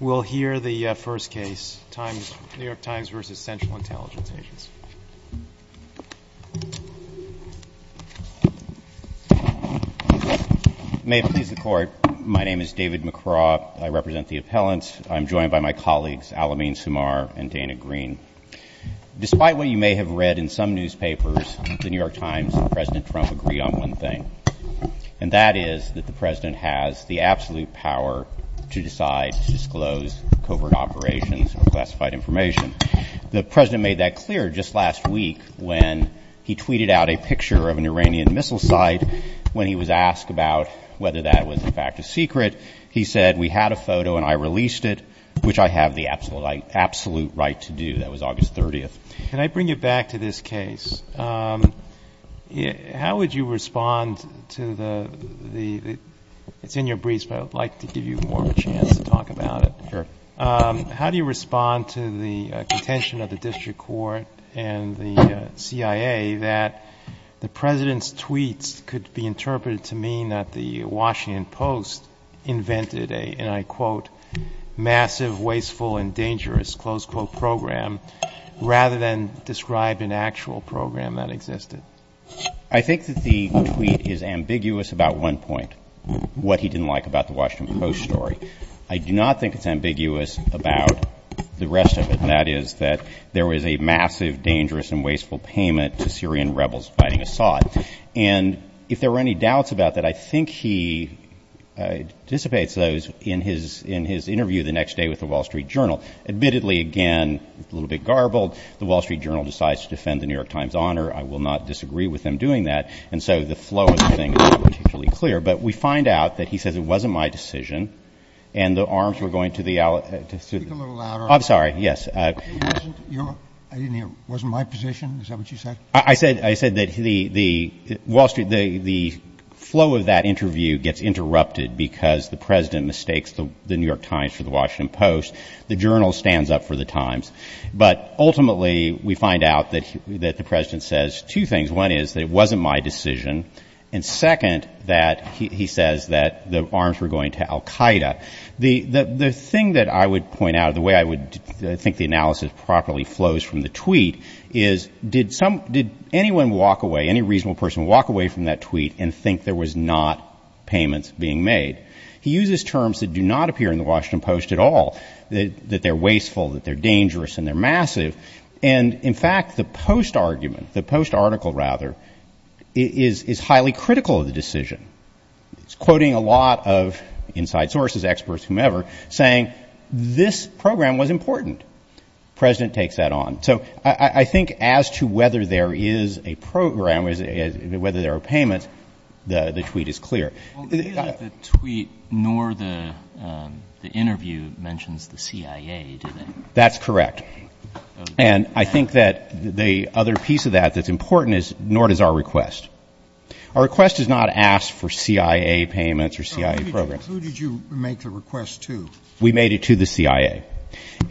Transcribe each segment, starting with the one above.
We'll hear the first case, New York Times v. Central Intelligence Agents. May it please the Court, my name is David McCraw. I represent the appellants. I'm joined by my colleagues Alameen Samar and Dana Green. Despite what you may have read in some newspapers, the New York Times and President Trump agree on one thing, and that is that the President has the absolute power to decide to disclose covert operations or classified information. The President made that clear just last week when he tweeted out a picture of an Iranian missile site. When he was asked about whether that was in fact a secret, he said, We had a photo and I released it, which I have the absolute right to do. That was August 30th. Can I bring you back to this case? How would you respond to the, it's in your briefs, but I would like to give you more of a chance to talk about it. Sure. How do you respond to the contention of the District Court and the CIA that the President's tweets could be interpreted to mean that the Washington Post invented a, and I quote, massive, wasteful and dangerous, close quote, program rather than describe an actual program that existed? I think that the tweet is ambiguous about one point, what he didn't like about the Washington Post story. I do not think it's ambiguous about the rest of it, and that is that there was a massive, dangerous and wasteful payment to Syrian rebels fighting Assad. And if there were any doubts about that, I think he dissipates those in his interview the next day with the Wall Street Journal. Admittedly, again, a little bit garbled, the Wall Street Journal decides to defend the New York Times honor. I will not disagree with them doing that. And so the flow of the thing is not particularly clear. But we find out that he says, It wasn't my decision. And the arms were going to the. Speak a little louder. I'm sorry. Yes. I didn't hear. Wasn't my position. Is that what you said? I said I said that the Wall Street, the flow of that interview gets interrupted because the president mistakes the New York Times for the Washington Post. The journal stands up for the times. But ultimately, we find out that that the president says two things. One is that it wasn't my decision. And second, that he says that the arms were going to al Qaeda. The thing that I would point out of the way I would think the analysis properly flows from the tweet is did some did anyone walk away? Any reasonable person walk away from that tweet and think there was not payments being made? He uses terms that do not appear in The Washington Post at all, that they're wasteful, that they're dangerous and they're massive. And in fact, the post argument, the post article, rather, is highly critical of the decision. It's quoting a lot of inside sources, experts, whomever, saying this program was important. The president takes that on. So I think as to whether there is a program, whether there are payments, the tweet is clear. The tweet nor the interview mentions the CIA, do they? That's correct. And I think that the other piece of that that's important is nor does our request. Our request does not ask for CIA payments or CIA programs. Who did you make the request to? We made it to the CIA.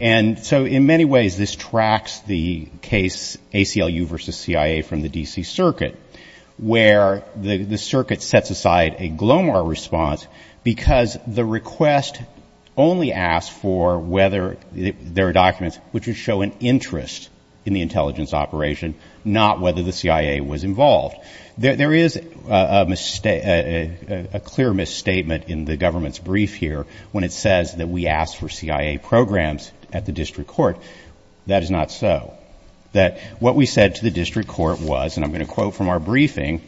And so in many ways, this tracks the case ACLU versus CIA from the D.C. Circuit, where the circuit sets aside a Glomar response because the request only asks for whether there are documents which would show an interest in the intelligence operation, not whether the CIA was involved. There is a clear misstatement in the government's brief here when it says that we ask for CIA programs at the district court. That is not so. That what we said to the district court was, and I'm going to quote from our briefing,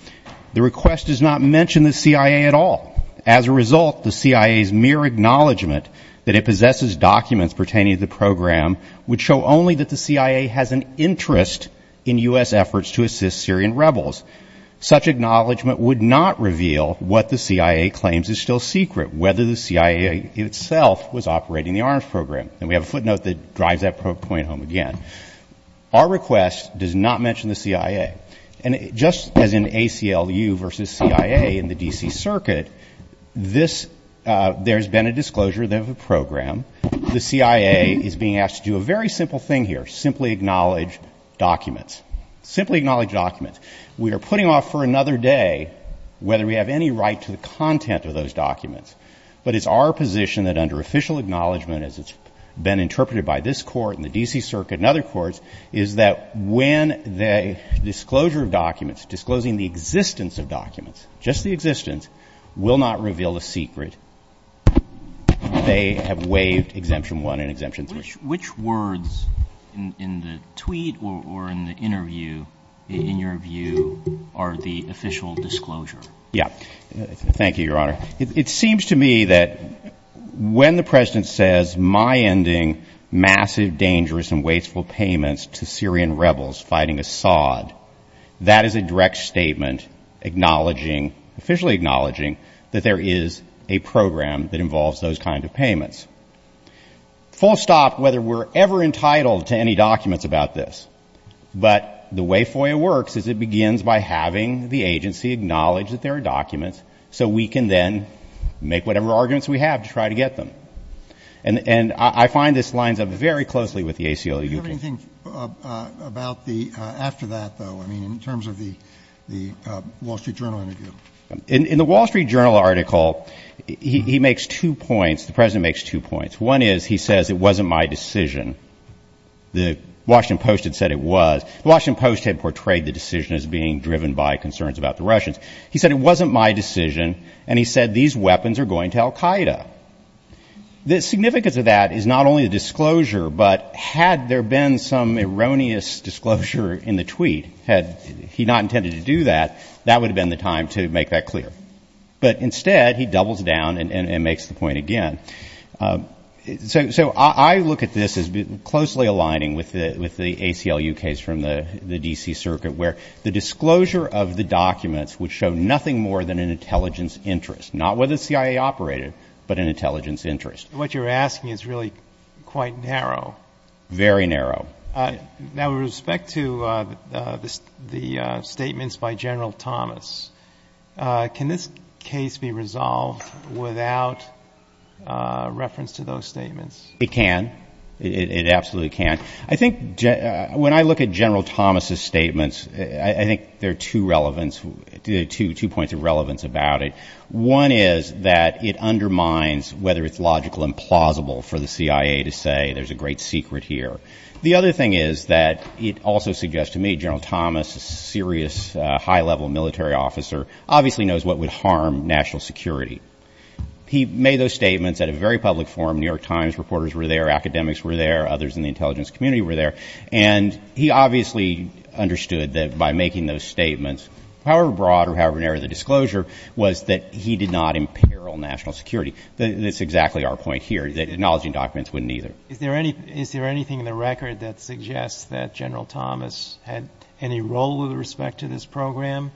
the request does not mention the CIA at all. As a result, the CIA's mere acknowledgment that it possesses documents pertaining to the program would show only that the CIA has an interest in U.S. efforts to assist Syrian rebels. Such acknowledgment would not reveal what the CIA claims is still secret, whether the CIA itself was operating the arms program. And we have a footnote that drives that point home again. Our request does not mention the CIA. And just as in ACLU versus CIA in the D.C. Circuit, this ‑‑ there's been a disclosure of a program. The CIA is being asked to do a very simple thing here, simply acknowledge documents. Simply acknowledge documents. We are putting off for another day whether we have any right to the content of those documents. But it's our position that under official acknowledgment, as it's been interpreted by this court and the D.C. Circuit and other courts, is that when the disclosure of documents, disclosing the existence of documents, just the existence, will not reveal a secret, they have waived Exemption 1 and Exemption 3. Which words in the tweet or in the interview, in your view, are the official disclosure? Yeah. Thank you, Your Honor. It seems to me that when the President says, my ending, massive, dangerous and wasteful payments to Syrian rebels fighting Assad, that is a direct statement acknowledging, officially acknowledging, that there is a program that involves those kind of payments. Full stop, whether we're ever entitled to any documents about this. But the way FOIA works is it begins by having the agency acknowledge that there are documents, so we can then make whatever arguments we have to try to get them. And I find this lines up very closely with the ACLU. Do you have anything about the ‑‑ after that, though, I mean, in terms of the Wall Street Journal interview? In the Wall Street Journal article, he makes two points. The President makes two points. One is he says, it wasn't my decision. The Washington Post had said it was. The Washington Post had portrayed the decision as being driven by concerns about the Russians. He said, it wasn't my decision. And he said, these weapons are going to al Qaeda. The significance of that is not only the disclosure, but had there been some erroneous disclosure in the tweet, had he not intended to do that, that would have been the time to make that clear. But instead, he doubles down and makes the point again. So I look at this as closely aligning with the ACLU case from the D.C. Circuit, where the disclosure of the documents would show nothing more than an intelligence interest, not whether the CIA operated, but an intelligence interest. What you're asking is really quite narrow. Very narrow. Now, with respect to the statements by General Thomas, can this case be resolved without reference to those statements? It can. It absolutely can. I think when I look at General Thomas' statements, I think there are two points of relevance about it. One is that it undermines whether it's logical and plausible for the CIA to say there's a great secret here. The other thing is that it also suggests to me General Thomas, a serious, high-level military officer, obviously knows what would harm national security. He made those statements at a very public forum. New York Times reporters were there. Academics were there. Others in the intelligence community were there. And he obviously understood that by making those statements, however broad or however narrow the disclosure, was that he did not imperil national security. That's exactly our point here, that acknowledging documents wouldn't either. Is there anything in the record that suggests that General Thomas had any role with respect to this program,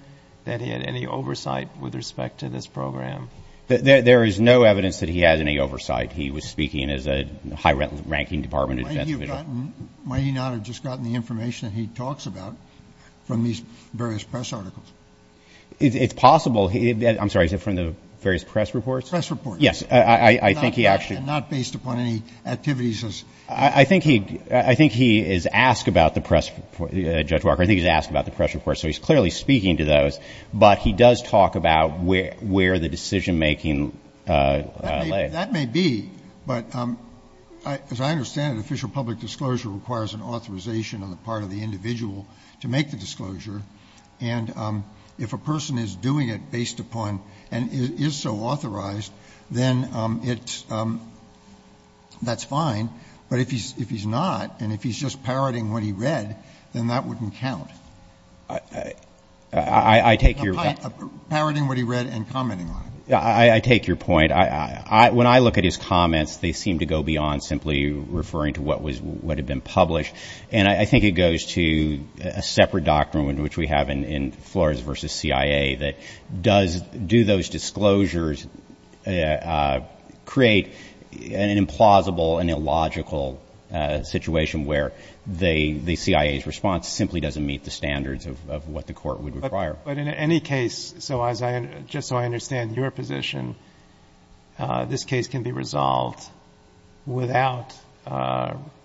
that he had any oversight with respect to this program? There is no evidence that he had any oversight. He was speaking as a high-ranking Department of Defense official. Might he not have just gotten the information that he talks about from these various press articles? It's possible. I'm sorry, is it from the various press reports? Press reports. Yes. Not based upon any activities. I think he is asked about the press report. Judge Walker, I think he's asked about the press report, so he's clearly speaking to those. But he does talk about where the decision-making lay. That may be. But as I understand it, official public disclosure requires an authorization on the part of the individual to make the disclosure. And if a person is doing it based upon and is so authorized, then that's fine. But if he's not and if he's just parroting what he read, then that wouldn't count. I take your point. Parroting what he read and commenting on it. I take your point. When I look at his comments, they seem to go beyond simply referring to what had been published. And I think it goes to a separate doctrine, which we have in Flores v. CIA, that do those disclosures create an implausible and illogical situation where the CIA's response simply doesn't meet the standards of what the court would require. But in any case, just so I understand your position, this case can be resolved without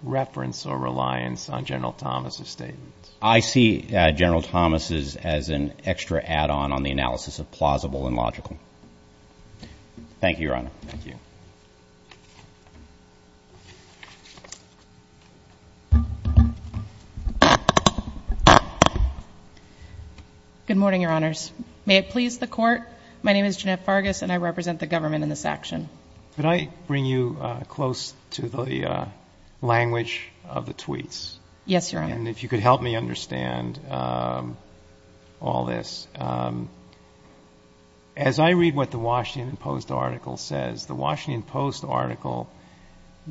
reference or reliance on General Thomas' statements. I see General Thomas' as an extra add-on on the analysis of plausible and logical. Thank you, Your Honor. Thank you. Good morning, Your Honors. May it please the Court, my name is Jeanette Fargus and I represent the government in this action. Could I bring you close to the language of the tweets? Yes, Your Honor. And if you could help me understand all this. As I read what the Washington Post article says, the Washington Post article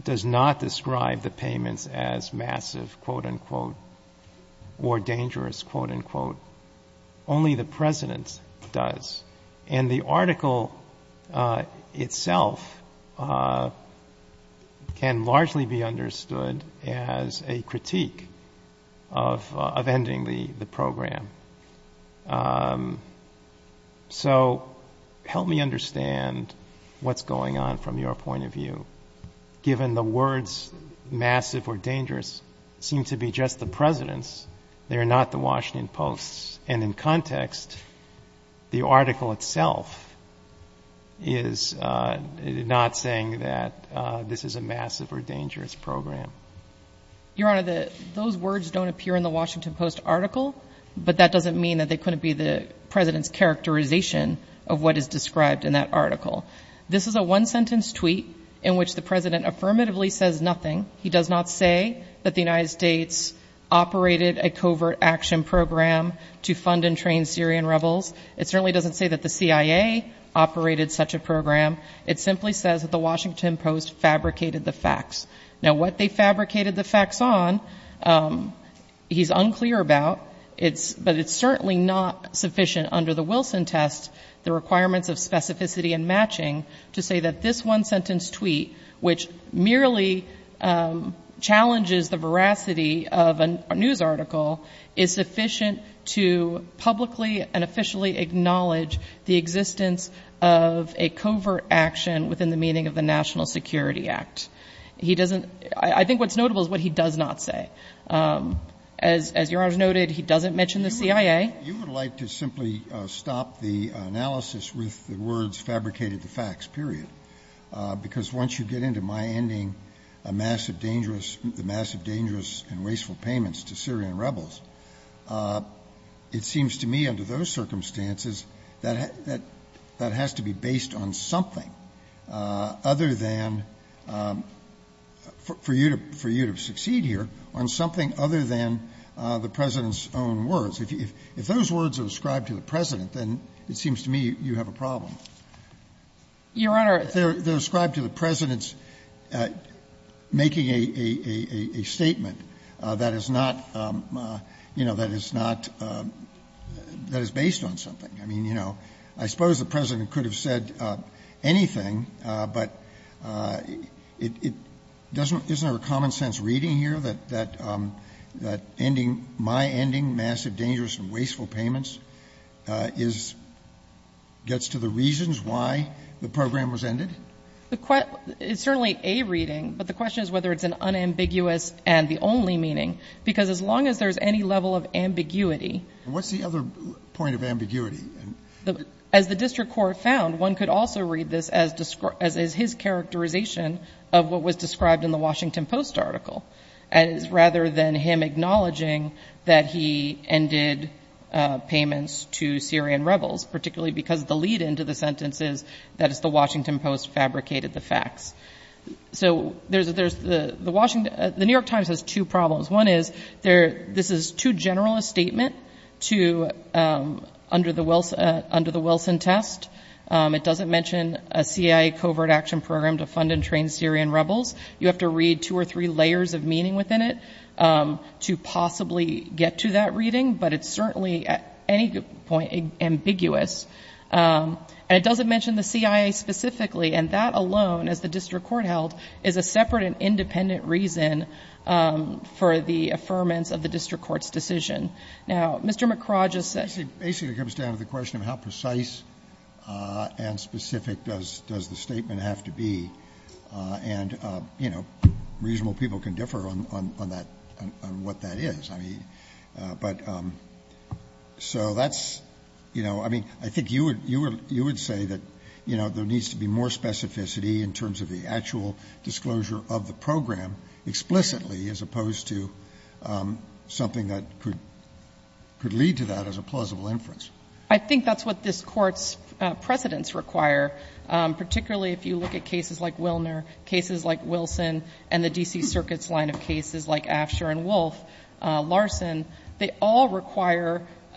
does not describe the payments as massive, quote-unquote, or dangerous, quote-unquote. Only the President does. And the article itself can largely be understood as a critique of ending the program. So help me understand what's going on from your point of view. Given the words massive or dangerous seem to be just the President's, they are not the Washington Post's. And in context, the article itself is not saying that this is a massive or dangerous program. Your Honor, those words don't appear in the Washington Post article, but that doesn't mean that they couldn't be the President's characterization of what is described in that article. This is a one-sentence tweet in which the President affirmatively says nothing. He does not say that the United States operated a covert action program to fund and train Syrian rebels. It certainly doesn't say that the CIA operated such a program. It simply says that the Washington Post fabricated the facts. Now, what they fabricated the facts on, he's unclear about. But it's certainly not sufficient under the Wilson test, the requirements of specificity and matching, to say that this one-sentence tweet, which merely challenges the veracity of a news article, is sufficient to publicly and officially acknowledge the existence of a covert action within the meaning of the National Security Act. It doesn't — I think what's notable is what he does not say. As Your Honor has noted, he doesn't mention the CIA. You would like to simply stop the analysis with the words fabricated the facts, period. Because once you get into my ending, a massive dangerous — the massive dangerous and wasteful payments to Syrian rebels, it seems to me under those circumstances that has to be based on something other than — for you to — for you to succeed here on something other than the President's own words. If those words are ascribed to the President, then it seems to me you have a problem. Your Honor — They're ascribed to the President's making a statement that is not, you know, that is not — that is based on something. I mean, you know, I suppose the President could have said anything, but it doesn't — isn't there a common-sense reading here that ending — my ending, massive dangerous and wasteful payments is — gets to the reasons why the program was ended? It's certainly a reading, but the question is whether it's an unambiguous and the only meaning. Because as long as there's any level of ambiguity — What's the other point of ambiguity? As the district court found, one could also read this as his characterization of what was described in the Washington Post article, rather than him acknowledging that he ended payments to Syrian rebels, particularly because the lead-in to the sentence is that it's the Washington Post fabricated the facts. So there's — the New York Times has two problems. One is there — this is too general a statement to — under the Wilson test. It doesn't mention a CIA covert action program to fund and train Syrian rebels. You have to read two or three layers of meaning within it to possibly get to that reading. But it's certainly, at any point, ambiguous. And it doesn't mention the CIA specifically. And that alone, as the district court held, is a separate and independent reason for the affirmance of the district court's decision. Now, Mr. McCraw just said — Basically, it comes down to the question of how precise and specific does the statement have to be. And, you know, reasonable people can differ on that — on what that is. I mean, but — so that's — you know, I mean, I think you would — you would say that, you know, there needs to be more specificity in terms of the actual disclosure of the program explicitly, as opposed to something that could — could lead to that as a plausible inference. I think that's what this Court's precedents require, particularly if you look at cases like Willner, cases like Wilson, and the D.C. Circuit's line of cases like Asher and Wolf, Larson. They all require —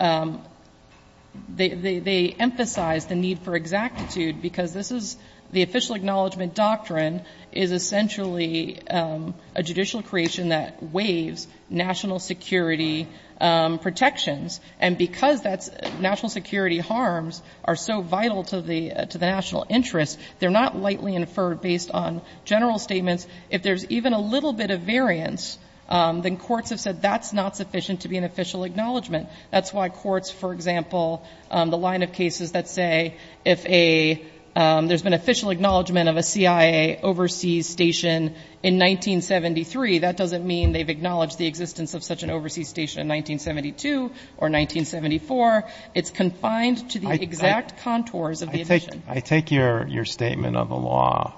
they emphasize the need for exactitude because this is — the official acknowledgment doctrine is essentially a judicial creation that waives national security protections. And because that's — national security harms are so vital to the — to the national interest, they're not lightly inferred based on general statements. If there's even a little bit of variance, then courts have said that's not sufficient to be an official acknowledgment. That's why courts, for example, the line of cases that say if a — there's been official acknowledgment of a CIA overseas station in 1973, that doesn't mean they've acknowledged the existence of such an overseas station in 1972 or 1974. It's confined to the exact contours of the edition. I take your — your statement of the law,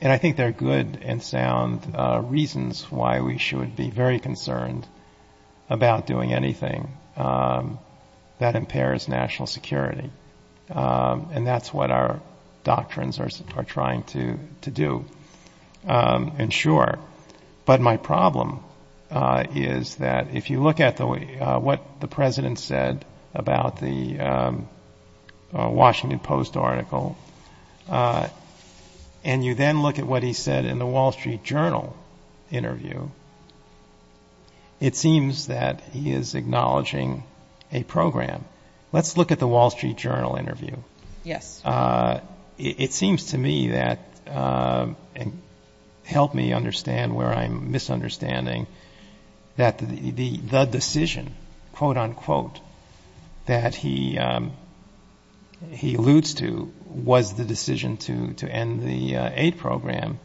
and I think there are good and sound reasons why we should be very concerned about doing anything that impairs national security. And that's what our doctrines are trying to — to do. And sure. But my problem is that if you look at the way — what the president said about the Washington Post article, and you then look at what he said in the Wall Street Journal interview, it seems that he is acknowledging a program. Let's look at the Wall Street Journal interview. Yes. It seems to me that — and help me understand where I'm misunderstanding — that the decision, quote, unquote, that he alludes to was the decision to end the aid program.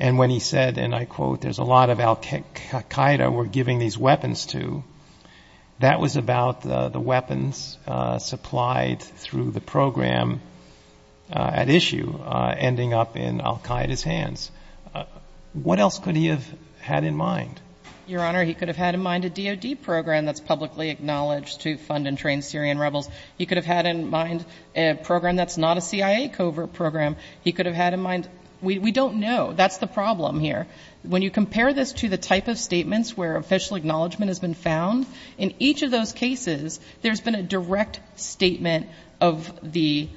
And when he said, and I quote, there's a lot of al Qaeda we're giving these weapons to, that was about the weapons supplied through the program at issue ending up in al Qaeda's hands. What else could he have had in mind? Your Honor, he could have had in mind a DOD program that's publicly acknowledged to fund and train Syrian rebels. He could have had in mind a program that's not a CIA covert program. He could have had in mind — we don't know. That's the problem here. When you compare this to the type of statements where official acknowledgement has been found, in each of those cases, there's been a direct statement of the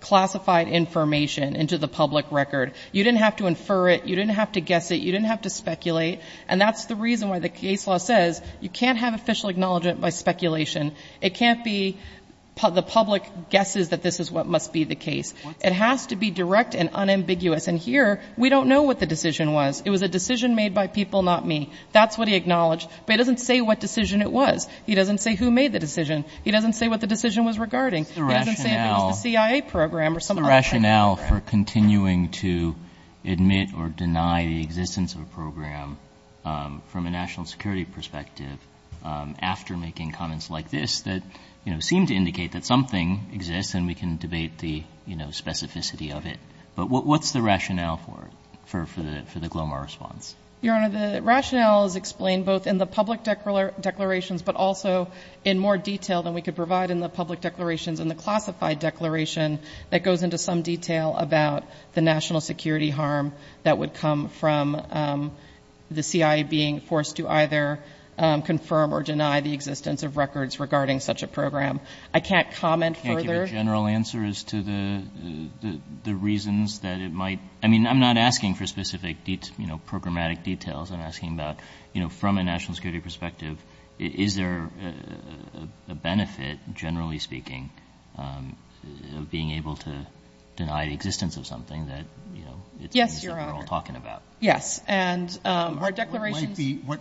classified information into the public record. You didn't have to infer it. You didn't have to guess it. You didn't have to speculate. And that's the reason why the case law says you can't have official acknowledgement by speculation. It can't be the public guesses that this is what must be the case. It has to be direct and unambiguous. And here, we don't know what the decision was. It was a decision made by people, not me. That's what he acknowledged. But he doesn't say what decision it was. He doesn't say who made the decision. He doesn't say what the decision was regarding. He doesn't say if it was the CIA program or some other type of program. What's the rationale for continuing to admit or deny the existence of a program from a national security perspective after making comments like this that seem to indicate that something exists and we can debate the specificity of it? But what's the rationale for the Glomar response? Your Honor, the rationale is explained both in the public declarations but also in more detail than we could provide in the public declarations and the classified declaration that goes into some detail about the national security harm that would come from the CIA being forced to either confirm or deny the existence of records regarding such a program. I can't comment further. The general answer is to the reasons that it might. I mean, I'm not asking for specific, you know, programmatic details. I'm asking about, you know, from a national security perspective, is there a benefit, generally speaking, of being able to deny the existence of something that, you know, it seems like we're all talking about? Yes, Your Honor. And our declarations ----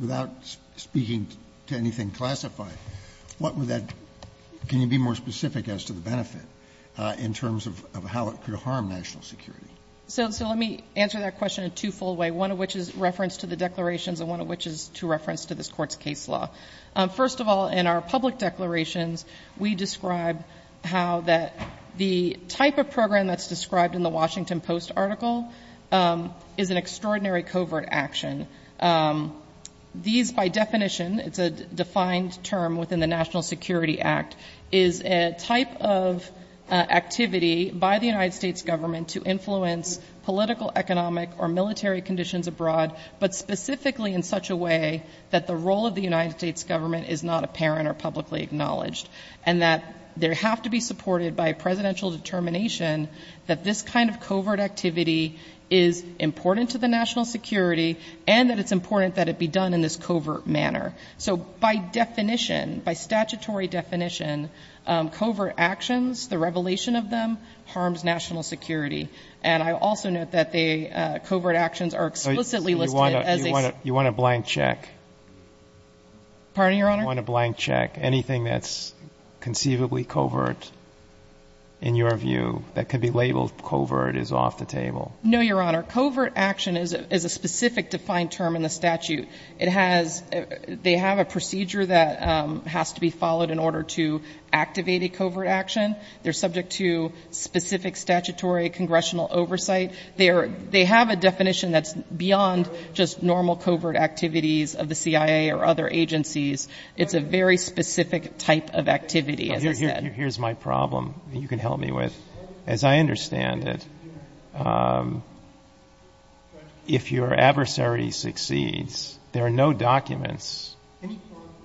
Without speaking to anything classified, can you be more specific as to the benefit in terms of how it could harm national security? So let me answer that question in twofold way, one of which is reference to the declarations and one of which is to reference to this Court's case law. First of all, in our public declarations, we describe how the type of program that's These, by definition, it's a defined term within the National Security Act, is a type of activity by the United States government to influence political, economic, or military conditions abroad, but specifically in such a way that the role of the United States government is not apparent or publicly acknowledged, and that there have to be supported by a presidential determination that this kind of covert activity is important to the national security and that it's important that it be done in this covert manner. So by definition, by statutory definition, covert actions, the revelation of them, harms national security. And I also note that the covert actions are explicitly listed as a ---- You want to blank check? Pardon me, Your Honor? You want to blank check? Anything that's conceivably covert in your view that could be labeled covert is off the table? No, Your Honor. Covert action is a specific defined term in the statute. It has ---- They have a procedure that has to be followed in order to activate a covert action. They're subject to specific statutory congressional oversight. They have a definition that's beyond just normal covert activities of the CIA or other agencies. It's a very specific type of activity, as I said. Here's my problem that you can help me with. As I understand it, if your adversary succeeds, there are no documents,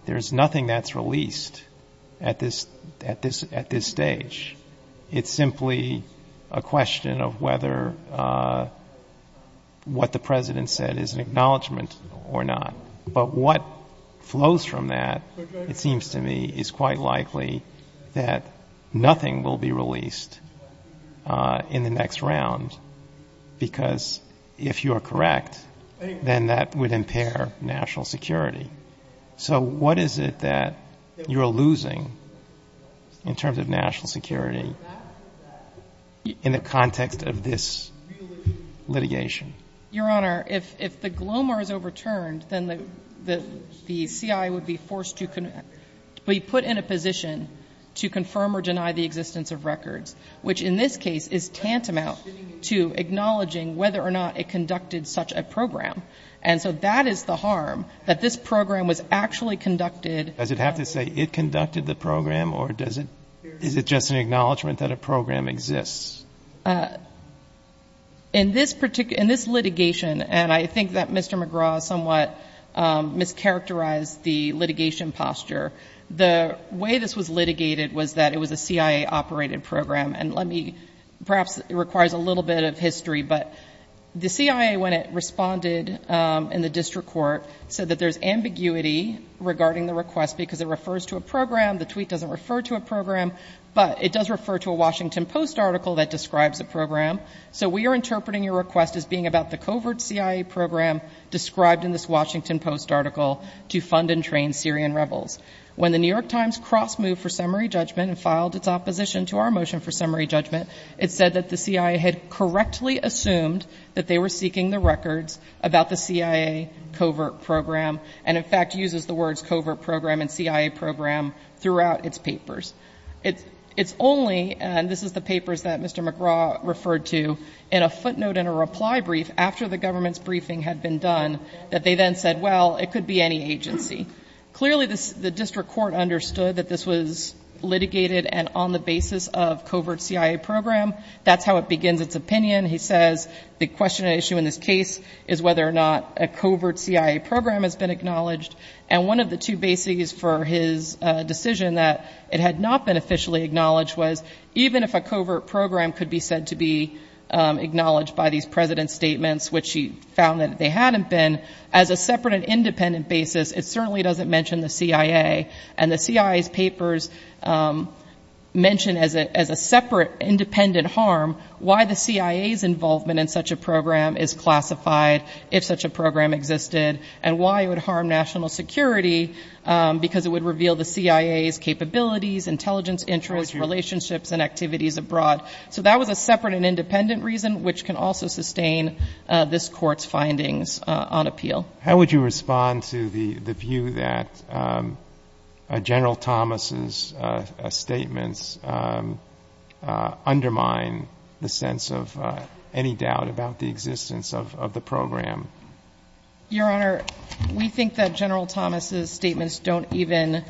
there's nothing that's released at this stage. It's simply a question of whether what the President said is an acknowledgement or not. But what flows from that, it seems to me, is quite likely that nothing will be released in the next round, because if you are correct, then that would impair national security. So what is it that you're losing in terms of national security in the context of this litigation? Your Honor, if the GLOMAR is overturned, then the CIA would be forced to be put in a position to confirm or deny the existence of records, which in this case is tantamount to acknowledging whether or not it conducted such a program. And so that is the harm, that this program was actually conducted. Does it have to say it conducted the program, or does it ---- Is it just an acknowledgement that a program exists? In this litigation, and I think that Mr. McGraw somewhat mischaracterized the litigation posture, the way this was litigated was that it was a CIA-operated program. And let me ---- perhaps it requires a little bit of history, but the CIA, when it responded in the district court, said that there's ambiguity regarding the request because it refers to a program, the tweet doesn't refer to a program, but it does refer to a Washington Post article that describes a program. So we are interpreting your request as being about the covert CIA program described in this Washington Post article to fund and train Syrian rebels. When the New York Times cross-moved for summary judgment and filed its opposition to our motion for summary judgment, it said that the CIA had correctly assumed that they were seeking the records about the CIA covert program and in fact uses the words covert program and CIA program throughout its papers. It's only, and this is the papers that Mr. McGraw referred to, in a footnote in a reply brief after the government's briefing had been done, that they then said, well, it could be any agency. Clearly, the district court understood that this was litigated and on the basis of covert CIA program. That's how it begins its opinion. He says the question and issue in this case is whether or not a covert CIA program has been acknowledged. And one of the two bases for his decision that it had not been officially acknowledged was even if a covert program could be said to be acknowledged by these president's statements, which he found that they hadn't been, as a separate and independent basis, it certainly doesn't mention the CIA. And the CIA's papers mention as a separate independent harm why the CIA's involvement in such a program is classified if such a program existed and why it would harm national security because it would reveal the CIA's capabilities, intelligence, interests, relationships, and activities abroad. So that was a separate and independent reason, which can also sustain this court's findings on appeal. How would you respond to the view that General Thomas's statements undermine the sense of any doubt about the existence of the program? Your Honor, we think that General Thomas's statements don't even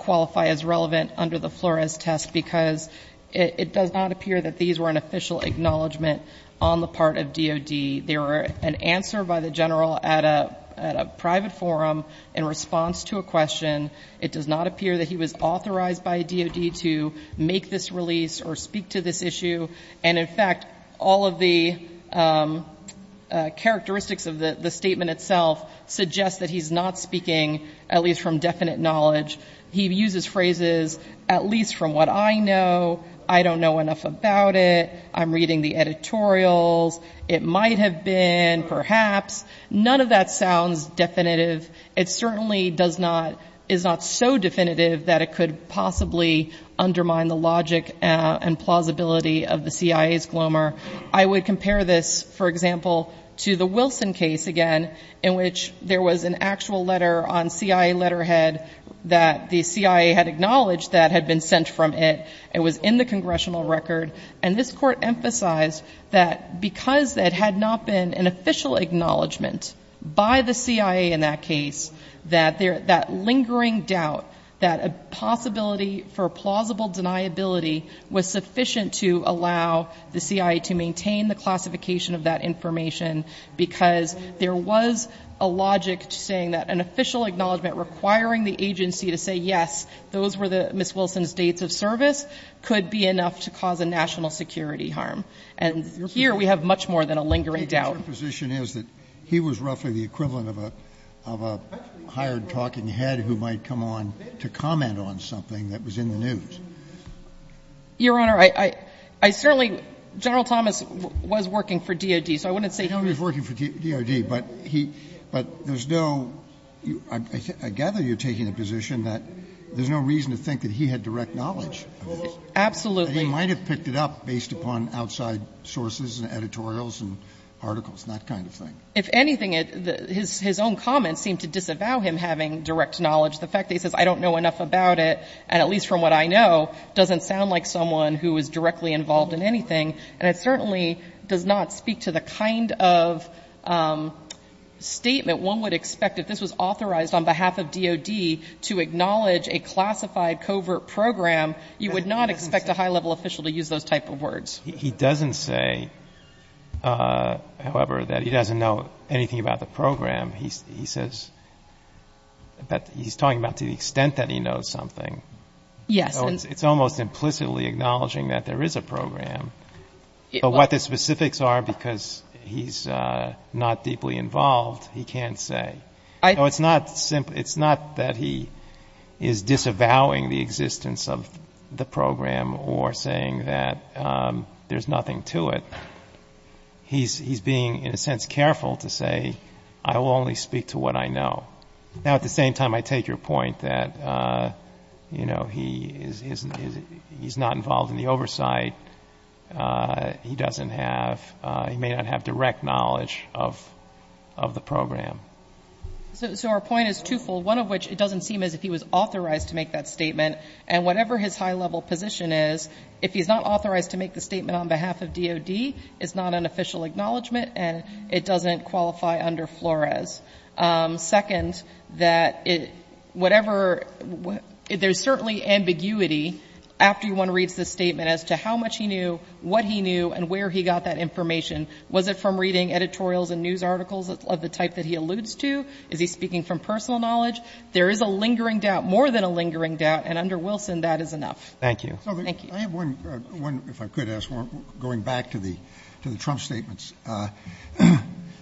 qualify as relevant under the Flores test because it does not appear that these were an official acknowledgment on the part of DOD. They were an answer by the general at a private forum in response to a question. It does not appear that he was authorized by DOD to make this release or speak to this issue. And, in fact, all of the characteristics of the statement itself suggest that he's not speaking at least from definite knowledge. He uses phrases, at least from what I know, I don't know enough about it, I'm reading the editorials, it might have been, perhaps. None of that sounds definitive. It certainly does not, is not so definitive that it could possibly undermine the logic and plausibility of the CIA's glomer. I would compare this, for example, to the Wilson case again, in which there was an actual letter on CIA letterhead that the CIA had acknowledged that had been sent from it. It was in the congressional record. And this Court emphasized that because it had not been an official acknowledgment by the CIA in that case, that lingering doubt, that a possibility for plausible deniability was sufficient to allow the CIA to maintain the classification of that information because there was a logic to saying that an official acknowledgment requiring the agency to say yes, those were Ms. Wilson's dates of service, could be enough to cause a national security harm. And here we have much more than a lingering doubt. Your position is that he was roughly the equivalent of a hired talking head who might come on to comment on something that was in the news. Your Honor, I certainly — General Thomas was working for DOD, so I wouldn't say he was— He was working for DOD, but he — but there's no — I gather you're taking the position that there's no reason to think that he had direct knowledge of this. Absolutely. And he might have picked it up based upon outside sources and editorials and articles and that kind of thing. If anything, his own comments seem to disavow him having direct knowledge. The fact that he says, I don't know enough about it, and at least from what I know, doesn't sound like someone who was directly involved in anything. And it certainly does not speak to the kind of statement one would expect. If this was authorized on behalf of DOD to acknowledge a classified covert program, you would not expect a high-level official to use those type of words. He doesn't say, however, that he doesn't know anything about the program. He says that he's talking about to the extent that he knows something. Yes. So it's almost implicitly acknowledging that there is a program. But what the specifics are, because he's not deeply involved, he can't say. So it's not simply — it's not that he is disavowing the existence of the program or saying that there's nothing to it. He's being, in a sense, careful to say, I will only speak to what I know. Now, at the same time, I take your point that, you know, he is not involved in the oversight. He doesn't have — he may not have direct knowledge of the program. So our point is twofold, one of which, it doesn't seem as if he was authorized to make that statement. And whatever his high-level position is, if he's not authorized to make the statement on behalf of DOD, it's not an official acknowledgment, and it doesn't qualify under Flores. Second, that whatever — there's certainly ambiguity after one reads the statement as to how much he knew, what he knew, and where he got that information. Was it from reading editorials and news articles of the type that he alludes to? Is he speaking from personal knowledge? There is a lingering doubt, more than a lingering doubt, and under Wilson, that is enough. Thank you. Thank you. Roberts. I have one, if I could ask one, going back to the Trump statements.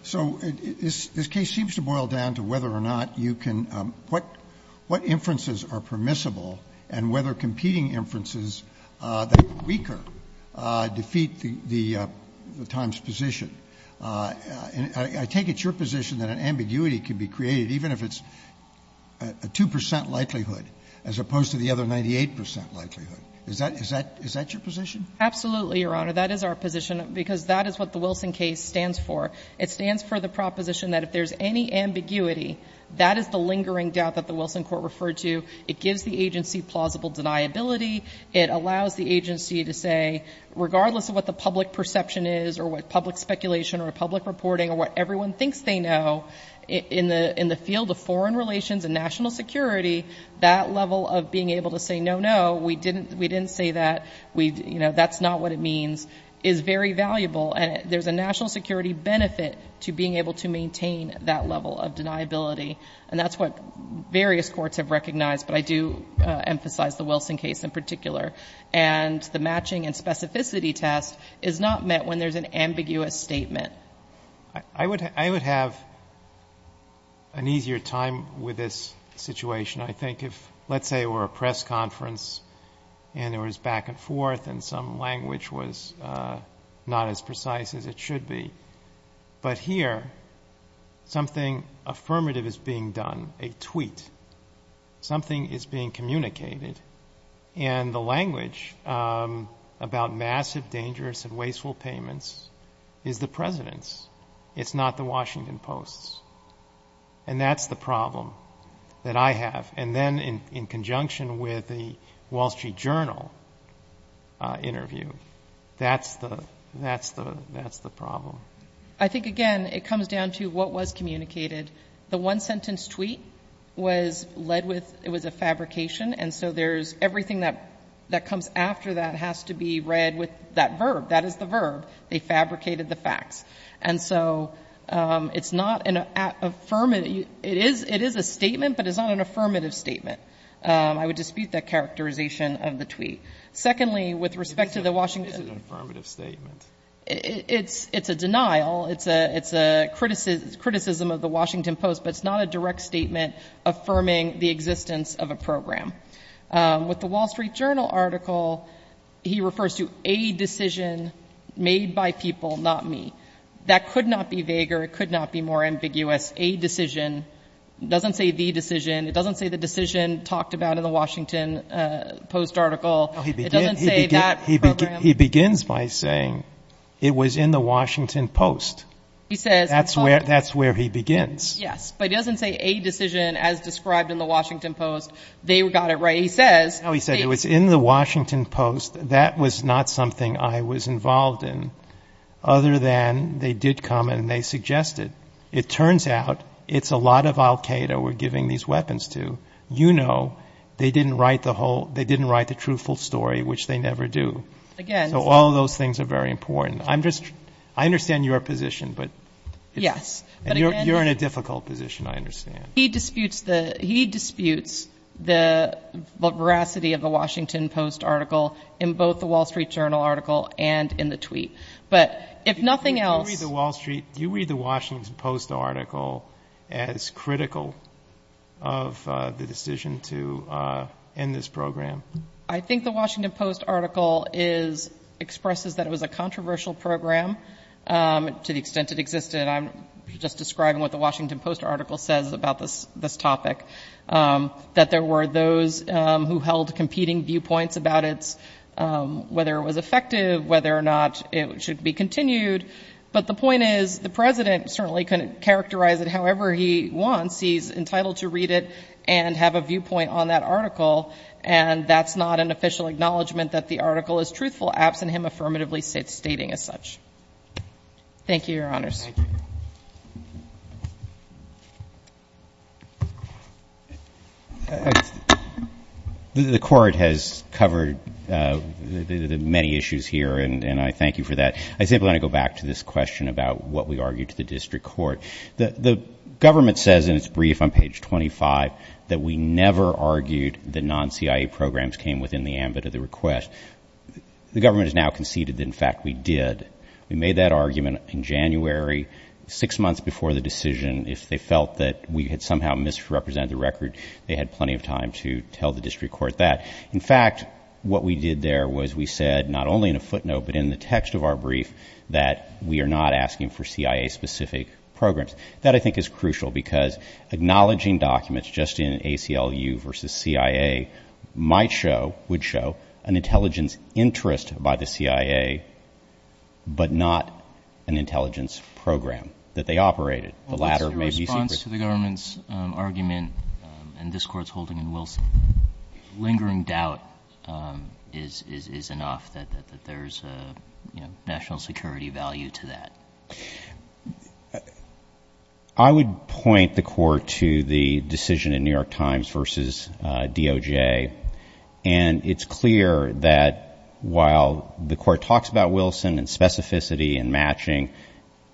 So this case seems to boil down to whether or not you can — what inferences are permissible and whether competing inferences that are weaker defeat the Times' position. And I take it's your position that an ambiguity can be created even if it's a 2 percent likelihood, as opposed to the other 98 percent likelihood. Is that — is that — is that your position? Absolutely, Your Honor. That is our position, because that is what the Wilson case stands for. It stands for the proposition that if there's any ambiguity, that is the lingering doubt that the Wilson court referred to. It gives the agency plausible deniability. It allows the agency to say, regardless of what the public perception is, or what public speculation or public reporting or what everyone thinks they know, in the — in the field of foreign relations and national security, that level of being able to say, no, no, we didn't — we didn't say that. We — you know, that's not what it means, is very valuable. And there's a national security benefit to being able to maintain that level of deniability. And that's what various courts have recognized. But I do emphasize the Wilson case in particular. And the matching and specificity test is not met when there's an ambiguous statement. I would — I would have an easier time with this situation, I think, if let's say it were a press conference and there was back and forth and some language was not as precise as it should be. And something is being communicated, and the language about massive, dangerous and wasteful payments is the president's. It's not the Washington Post's. And that's the problem that I have. And then in conjunction with the Wall Street Journal interview, that's the — that's the — that's the problem. I think, again, it comes down to what was communicated. The one-sentence tweet was led with — it was a fabrication. And so there's — everything that comes after that has to be read with that verb. That is the verb. They fabricated the facts. And so it's not an — it is a statement, but it's not an affirmative statement. I would dispute that characterization of the tweet. Secondly, with respect to the Washington — It is an affirmative statement. It's a denial. It's a criticism of the Washington Post, but it's not a direct statement affirming the existence of a program. With the Wall Street Journal article, he refers to a decision made by people, not me. That could not be vaguer. It could not be more ambiguous. A decision doesn't say the decision. It doesn't say the decision talked about in the Washington Post article. It doesn't say that program. But he begins by saying it was in the Washington Post. He says — That's where he begins. Yes. But he doesn't say a decision as described in the Washington Post. They got it right. He says — No, he said it was in the Washington Post. That was not something I was involved in, other than they did comment and they suggested. It turns out it's a lot of Al-Qaeda we're giving these weapons to. You know they didn't write the whole — they didn't write the truthful story, which they never do. Again — So all of those things are very important. I'm just — I understand your position, but — Yes, but again — You're in a difficult position, I understand. He disputes the veracity of the Washington Post article in both the Wall Street Journal article and in the tweet. But if nothing else — Do you read the Wall Street — do you read the Washington Post article as critical of the decision to end this program? I think the Washington Post article is — expresses that it was a controversial program to the extent it existed. I'm just describing what the Washington Post article says about this topic, that there were those who held competing viewpoints about its — whether it was effective, whether or not it should be continued. But the point is the president certainly can characterize it however he wants. He's entitled to read it and have a viewpoint on that article, and that's not an official acknowledgment that the article is truthful absent him affirmatively stating as such. Thank you, Your Honors. The Court has covered the many issues here, and I thank you for that. I simply want to go back to this question about what we argued to the district court. The government says in its brief on page 25 that we never argued that non-CIA programs came within the ambit of the request. The government has now conceded that, in fact, we did. We made that argument in January, six months before the decision. If they felt that we had somehow misrepresented the record, they had plenty of time to tell the district court that. In fact, what we did there was we said not only in a footnote but in the text of our brief that we are not asking for CIA-specific programs. That, I think, is crucial because acknowledging documents just in ACLU versus CIA might show, would show, an intelligence interest by the CIA but not an intelligence program that they operated. What's your response to the government's argument, and this Court's holding in Wilson, lingering doubt is enough that there's a national security value to that? I would point the Court to the decision in New York Times versus DOJ, and it's clear that while the Court talks about Wilson and specificity and matching,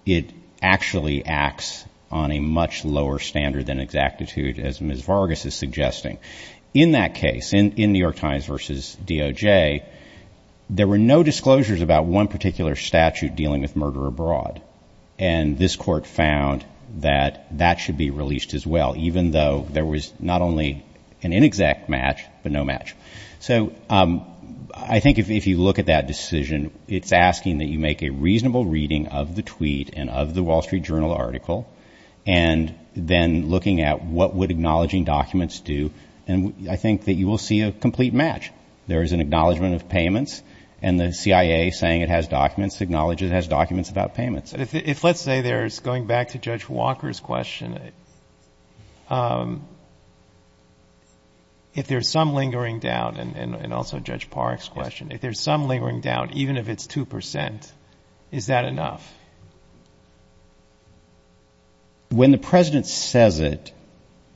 it actually acts on a much lower standard than exactitude, as Ms. Vargas is suggesting. In that case, in New York Times versus DOJ, there were no disclosures about one particular statute dealing with murder abroad, and this Court found that that should be released as well, even though there was not only an inexact match but no match. So I think if you look at that decision, it's asking that you make a reasonable reading of the tweet and of the Wall Street Journal article, and then looking at what would acknowledging documents do, and I think that you will see a complete match. There is an acknowledgment of payments, and the CIA saying it has documents acknowledges it has documents about payments. If let's say there's, going back to Judge Walker's question, if there's some lingering doubt, and also Judge Park's question, if there's some lingering doubt, even if it's 2 percent, is that enough? When the President says it,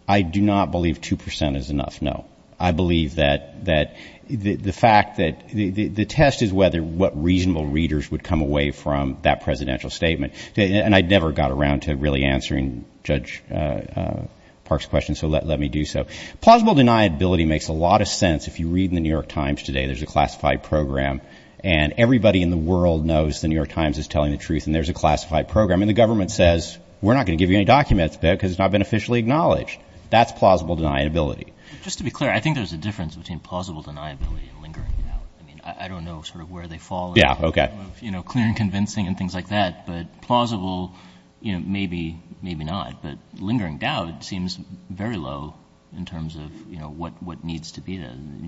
I do not believe 2 percent is enough, no. I believe that the fact that the test is whether what reasonable readers would come away from that presidential statement, and I never got around to really answering Judge Park's question, so let me do so. Plausible deniability makes a lot of sense. If you read in the New York Times today, there's a classified program, and everybody in the world knows the New York Times is telling the truth, and there's a classified program, and the government says we're not going to give you any documents because it's not been officially acknowledged. That's plausible deniability. Just to be clear, I think there's a difference between plausible deniability and lingering doubt. I mean, I don't know sort of where they fall in the realm of clear and convincing and things like that, but plausible maybe, maybe not, but lingering doubt seems very low in terms of what needs to be done.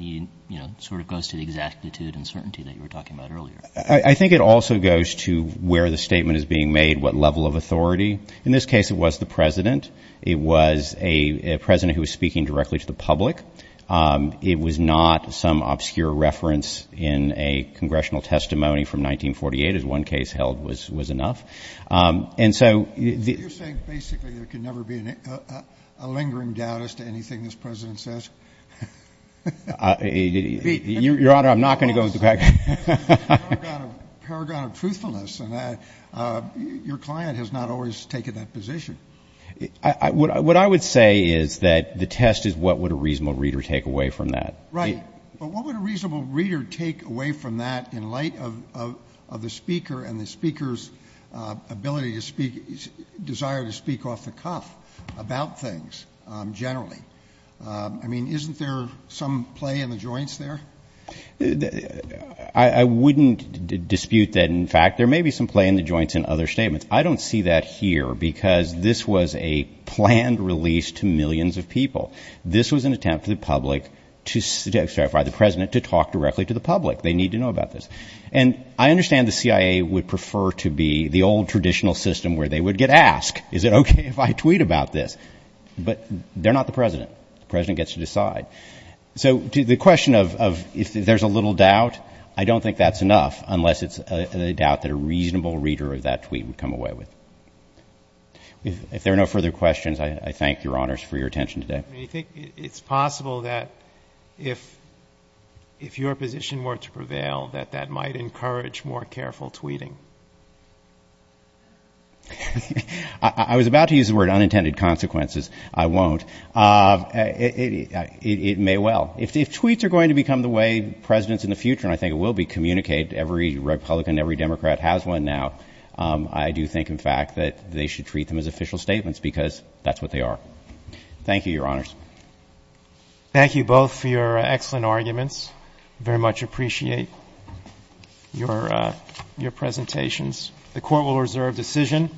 It sort of goes to the exactitude and certainty that you were talking about earlier. I think it also goes to where the statement is being made, what level of authority. In this case, it was the President. It was a President who was speaking directly to the public. It was not some obscure reference in a congressional testimony from 1948, as one case held was enough. And so the ‑‑ You're saying basically there can never be a lingering doubt as to anything this President says? Your Honor, I'm not going to go into the back. Paragon of truthfulness. Your client has not always taken that position. What I would say is that the test is what would a reasonable reader take away from that. Right. But what would a reasonable reader take away from that in light of the speaker and the speaker's ability to speak, desire to speak off the cuff about things generally? I mean, isn't there some play in the joints there? I wouldn't dispute that. In fact, there may be some play in the joints in other statements. I don't see that here because this was a planned release to millions of people. This was an attempt for the public to ‑‑ sorry, for the President to talk directly to the public. They need to know about this. And I understand the CIA would prefer to be the old traditional system where they would get asked, is it okay if I tweet about this? But they're not the President. The President gets to decide. So the question of if there's a little doubt, I don't think that's enough, unless it's a doubt that a reasonable reader of that tweet would come away with. If there are no further questions, I thank your honors for your attention today. Do you think it's possible that if your position were to prevail, that that might encourage more careful tweeting? I was about to use the word unintended consequences. I won't. It may well. If tweets are going to become the way presidents in the future, and I think it will be communicated, every Republican, every Democrat has one now, I do think, in fact, that they should treat them as official statements because that's what they are. Thank you, your honors. Thank you both for your excellent arguments. Very much appreciate your presentations. The court will reserve decision.